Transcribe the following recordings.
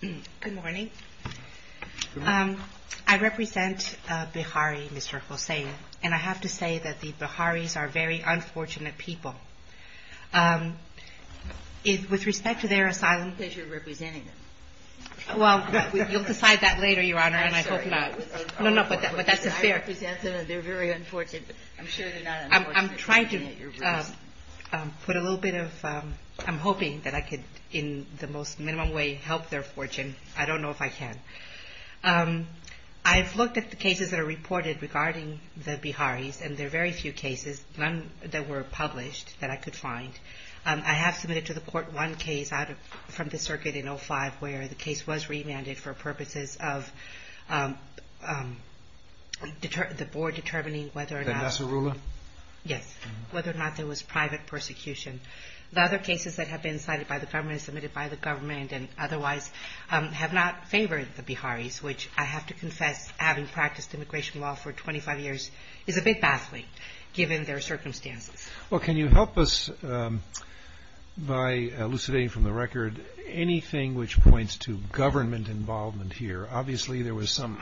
Good morning. I represent Bihari, Mr. Hossian, and I have to say that the Biharis are very unfortunate people. With respect to their asylum... Because you're representing them. Well, you'll decide that later, Your Honor, and I hope not. No, no, but that's fair. Because I represent them and they're very unfortunate. I'm sure they're not unfortunate I'm hoping that I could, in the most minimum way, help their fortune. I don't know if I can. I've looked at the cases that are reported regarding the Biharis, and there are very few cases, none that were published, that I could find. I have submitted to the court one case from the circuit in 2005 where the case was remanded for purposes of the board determining whether or not... The Nassarullah? Yes, whether or not there was private persecution. The other cases that have been cited by the government, submitted by the government, and otherwise, have not favored the Biharis, which I have to confess, having practiced immigration law for 25 years, is a big pathway, given their circumstances. Well, can you help us by elucidating from the record anything which points to government involvement here? Obviously, there was some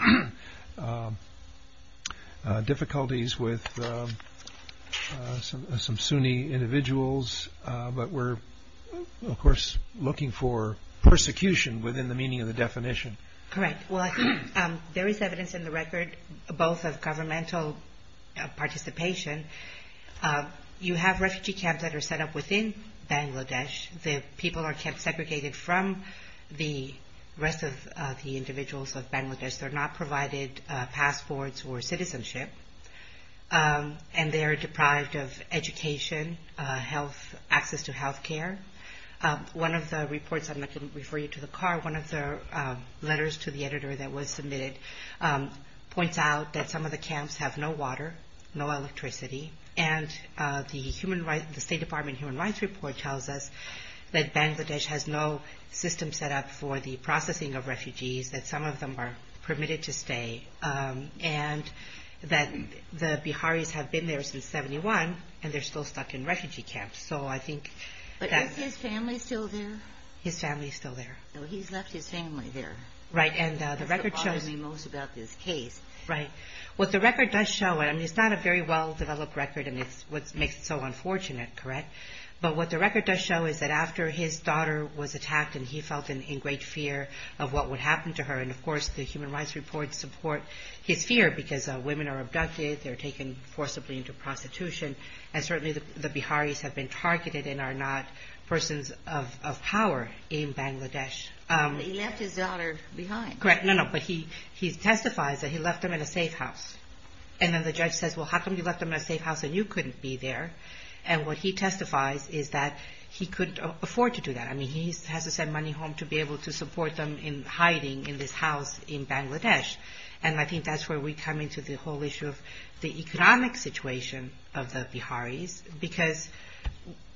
difficulties with some Sunni individuals, but we're, of course, looking for persecution within the meaning of the definition. Correct. Well, there is evidence in the record, both of governmental participation. You have refugee camps that are set up within Bangladesh. The people are kept segregated from the rest of the individuals of Bangladesh. They're not provided passports or citizenship, and they're deprived of education, access to health care. One of the reports, and I can refer you to the card, one of the letters to the editor that was submitted points out that some of the camps have no water, no electricity, and the State Department Human Rights Report tells us that Bangladesh has no system set up for the processing of refugees, that some of them are permitted to stay, and that the Biharis have been there since 71, and they're still stuck in refugee camps. But is his family still there? His family is still there. So he's left his family there. Right. That's what bothers me most about this case. Right. What the record does show, and it's not a very well-developed record, and it's what makes it so unfortunate, correct? But what the record does show is that after his daughter was attacked, and he felt in great fear of what would happen to her, and, of course, the Human Rights Report supports his fear because women are abducted, they're taken forcibly into prostitution, and certainly the Biharis have been targeted and are not persons of power in Bangladesh. He left his daughter behind. Correct. No, no. But he testifies that he left them in a safe house. And then the judge says, well, how come you left them in a safe house and you couldn't be there? And what he testifies is that he couldn't afford to do that. I mean, he has to send money home to be able to support them in hiding in this house in Bangladesh. And I think that's where we come into the whole issue of the economic situation of the Biharis because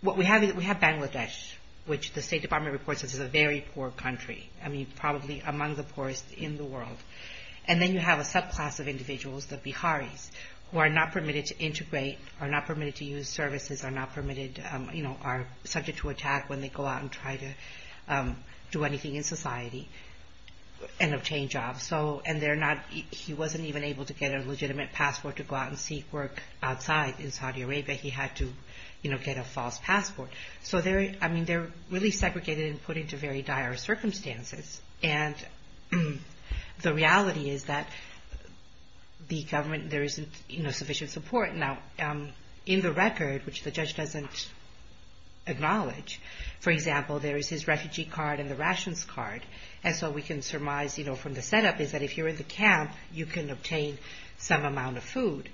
we have Bangladesh, which the State Department reports as a very poor country, I mean, probably among the poorest in the world. And then you have a subclass of individuals, the Biharis, who are not permitted to integrate, are not permitted to use services, are subject to attack when they go out and try to do anything in society and obtain jobs. And he wasn't even able to get a legitimate passport to go out and seek work outside in Saudi Arabia. He had to get a false passport. So, I mean, they're really segregated and put into very dire circumstances. And the reality is that the government, there isn't sufficient support. Now, in the record, which the judge doesn't acknowledge, for example, there is his refugee card and the rations card. And so we can surmise, you know, from the setup is that if you're in the camp, you can obtain some amount of food.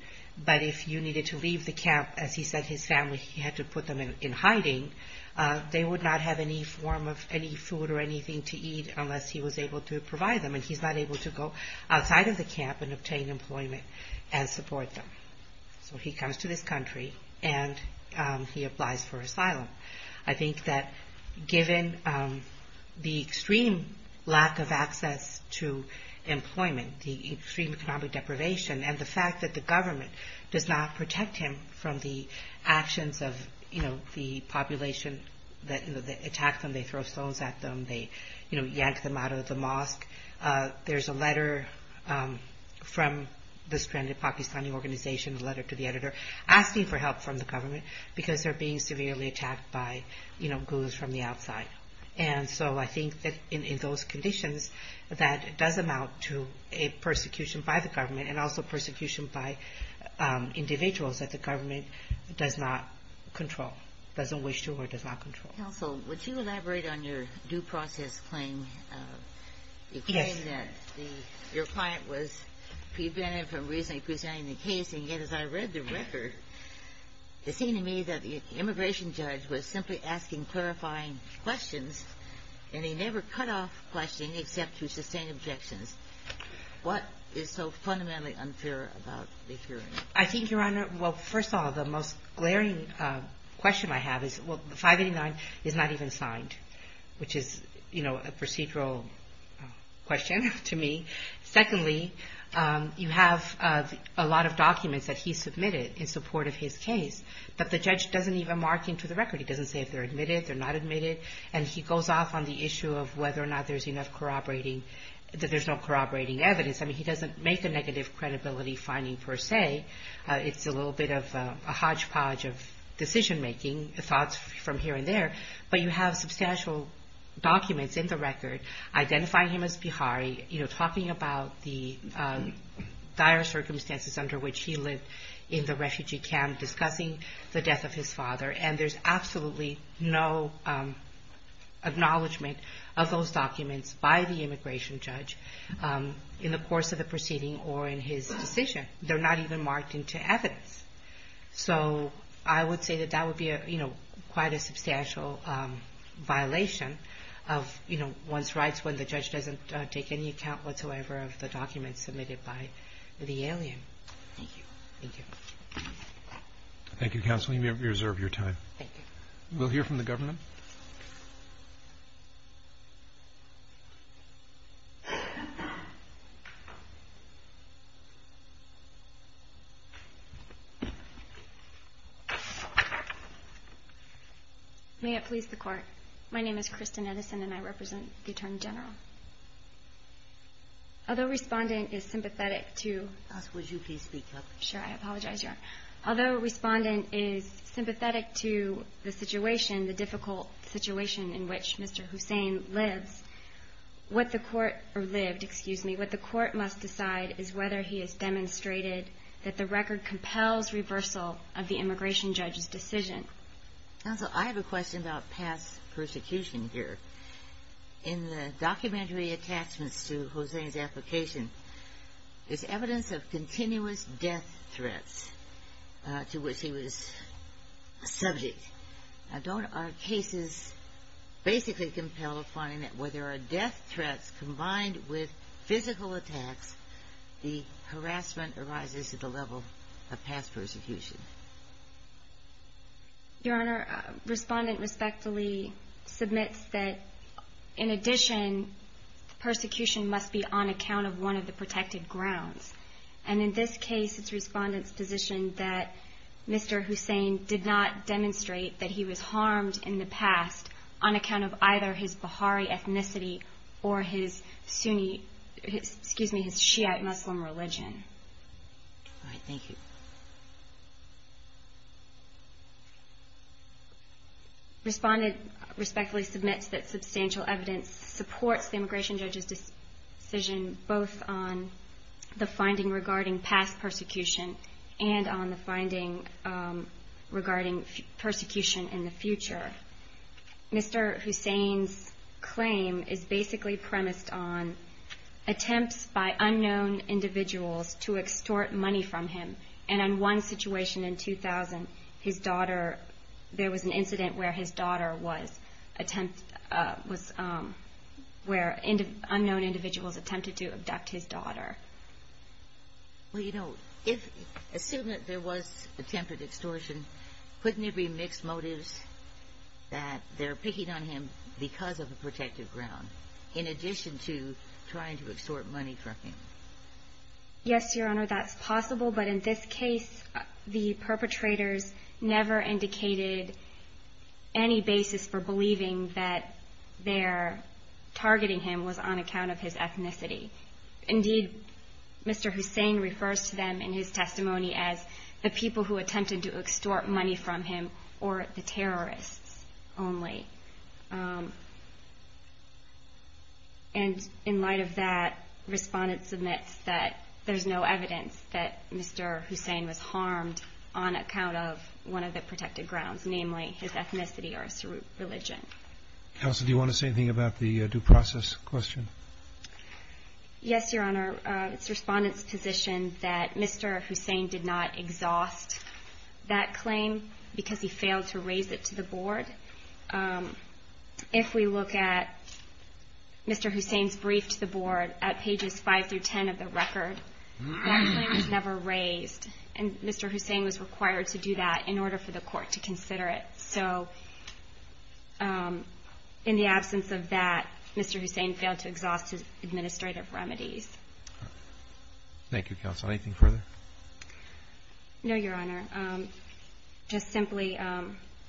But if you needed to leave the camp, as he said his family had to put them in hiding, they would not have any form of any food or anything to eat unless he was able to provide them. And he's not able to go outside of the camp and obtain employment and support them. So he comes to this country and he applies for asylum. I think that given the extreme lack of access to employment, the extreme economic deprivation, and the fact that the government does not protect him from the actions of, you know, the population that attack them. They throw stones at them. They, you know, yank them out of the mosque. There's a letter from the Stranded Pakistani Organization, a letter to the editor, asking for help from the government because they're being severely attacked by, you know, ghouls from the outside. And so I think that in those conditions that it does amount to a persecution by the government and also persecution by individuals that the government does not control, doesn't wish to or does not control. Counsel, would you elaborate on your due process claim? Yes. The claim that your client was prevented from reasonably presenting the case. And yet as I read the record, it seemed to me that the immigration judge was simply asking clarifying questions and he never cut off questioning except through sustained objections. What is so fundamentally unfair about the hearing? I think, Your Honor, well, first of all, the most glaring question I have is, well, 589 is not even signed, which is, you know, a procedural question to me. Secondly, you have a lot of documents that he submitted in support of his case, but the judge doesn't even mark into the record. He doesn't say if they're admitted, they're not admitted, and he goes off on the issue of whether or not there's enough corroborating, that there's no corroborating evidence. I mean, he doesn't make a negative credibility finding per se. It's a little bit of a hodgepodge of decision-making thoughts from here and there. But you have substantial documents in the record identifying him as Bihari, you know, talking about the dire circumstances under which he lived in the refugee camp, discussing the death of his father. And there's absolutely no acknowledgement of those documents by the immigration judge in the course of the proceeding or in his decision. They're not even marked into evidence. So I would say that that would be, you know, quite a substantial violation of, you know, one's rights when the judge doesn't take any account whatsoever of the documents submitted by the alien. Thank you. Thank you. Thank you, Counsel. You may reserve your time. Thank you. We'll hear from the government. May it please the Court. My name is Kristen Edison, and I represent the Attorney General. Although Respondent is sympathetic to — Counsel, would you please speak up? Sure, I apologize, Your Honor. Although Respondent is sympathetic to the situation, the difficult situation in which Mr. Hussein lives, what the Court — or lived, excuse me. What the Court must decide is whether he has demonstrated that the record compels reversal of the immigration judge's decision. Counsel, I have a question about past persecution here. In the documentary attachments to Hussein's application, there's evidence of continuous death threats to which he was subject. Now, don't our cases basically compel finding that where there are death threats combined with physical attacks, the harassment arises at the level of past persecution? Your Honor, Respondent respectfully submits that, in addition, persecution must be on account of one of the protected grounds. And in this case, it's Respondent's position that Mr. Hussein did not demonstrate that he was harmed in the past on account of either his Baha'i ethnicity or his Sunni — excuse me, his Shiite Muslim religion. All right. Thank you. Respondent respectfully submits that substantial evidence supports the immigration judge's decision both on the finding regarding past persecution and on the finding regarding persecution in the future. Mr. Hussein's claim is basically premised on attempts by unknown individuals to extort money from him, and in one situation in 2000, his daughter — there was an incident where his daughter was — where unknown individuals attempted to abduct his daughter. Well, you know, assuming that there was attempted extortion, couldn't it be mixed motives that they're picking on him because of a protected ground, in addition to trying to extort money from him? Yes, Your Honor, that's possible, but in this case, the perpetrators never indicated any basis for believing that their targeting him was on account of his ethnicity. Indeed, Mr. Hussein refers to them in his testimony as the people who attempted to extort money from him, or the terrorists only. And in light of that, Respondent submits that there's no evidence that Mr. Hussein was harmed on account of one of the protected grounds, namely his ethnicity or religion. Counsel, do you want to say anything about the due process question? Yes, Your Honor. It's Respondent's position that Mr. Hussein did not exhaust that claim because he failed to raise it to the board. If we look at Mr. Hussein's brief to the board at pages 5 through 10 of the record, that claim was never raised, and Mr. Hussein was required to do that in order for the court to consider it. So in the absence of that, Mr. Hussein failed to exhaust his administrative remedies. Thank you, Counsel. Anything further? No, Your Honor. Just simply,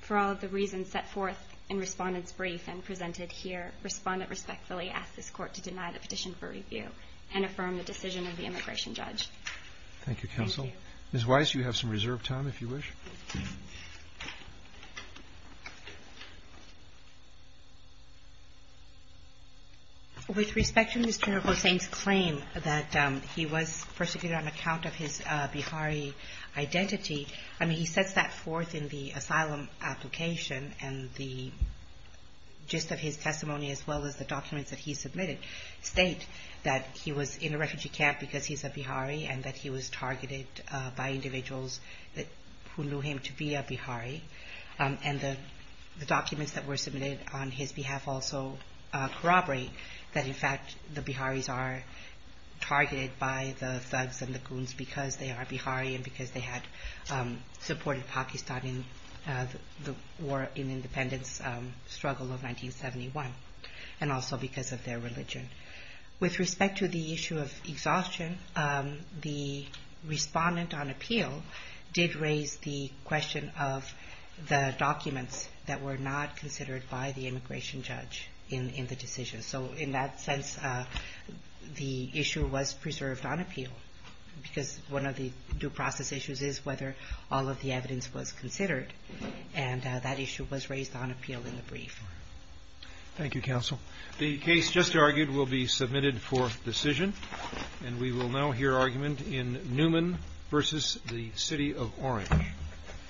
for all of the reasons set forth in Respondent's brief and presented here, Respondent respectfully asks this court to deny the petition for review and affirm the decision of the immigration judge. Thank you, Counsel. Ms. Weiss, you have some reserved time if you wish. With respect to Mr. Hussein's claim that he was persecuted on account of his Bihari identity, I mean, he sets that forth in the asylum application, and the gist of his testimony, as well as the documents that he submitted state that he was in a refugee camp because he's a Bihari and that he was targeted by individuals who knew him to be a Bihari, and the documents that were submitted on his behalf also corroborate that, in fact, the Biharis are targeted by the thugs and the goons because they are Bihari and because they had supported Pakistan in the war in independence struggle of 1971, and also because of their religion. With respect to the issue of exhaustion, the Respondent on appeal did raise the question of the documents that were not considered by the immigration judge in the decision. So in that sense, the issue was preserved on appeal because one of the due process issues is whether all of the evidence was considered, and that issue was raised on appeal in the brief. Thank you, Counsel. The case just argued will be submitted for decision, and we will now hear argument in Newman v. The City of Orange.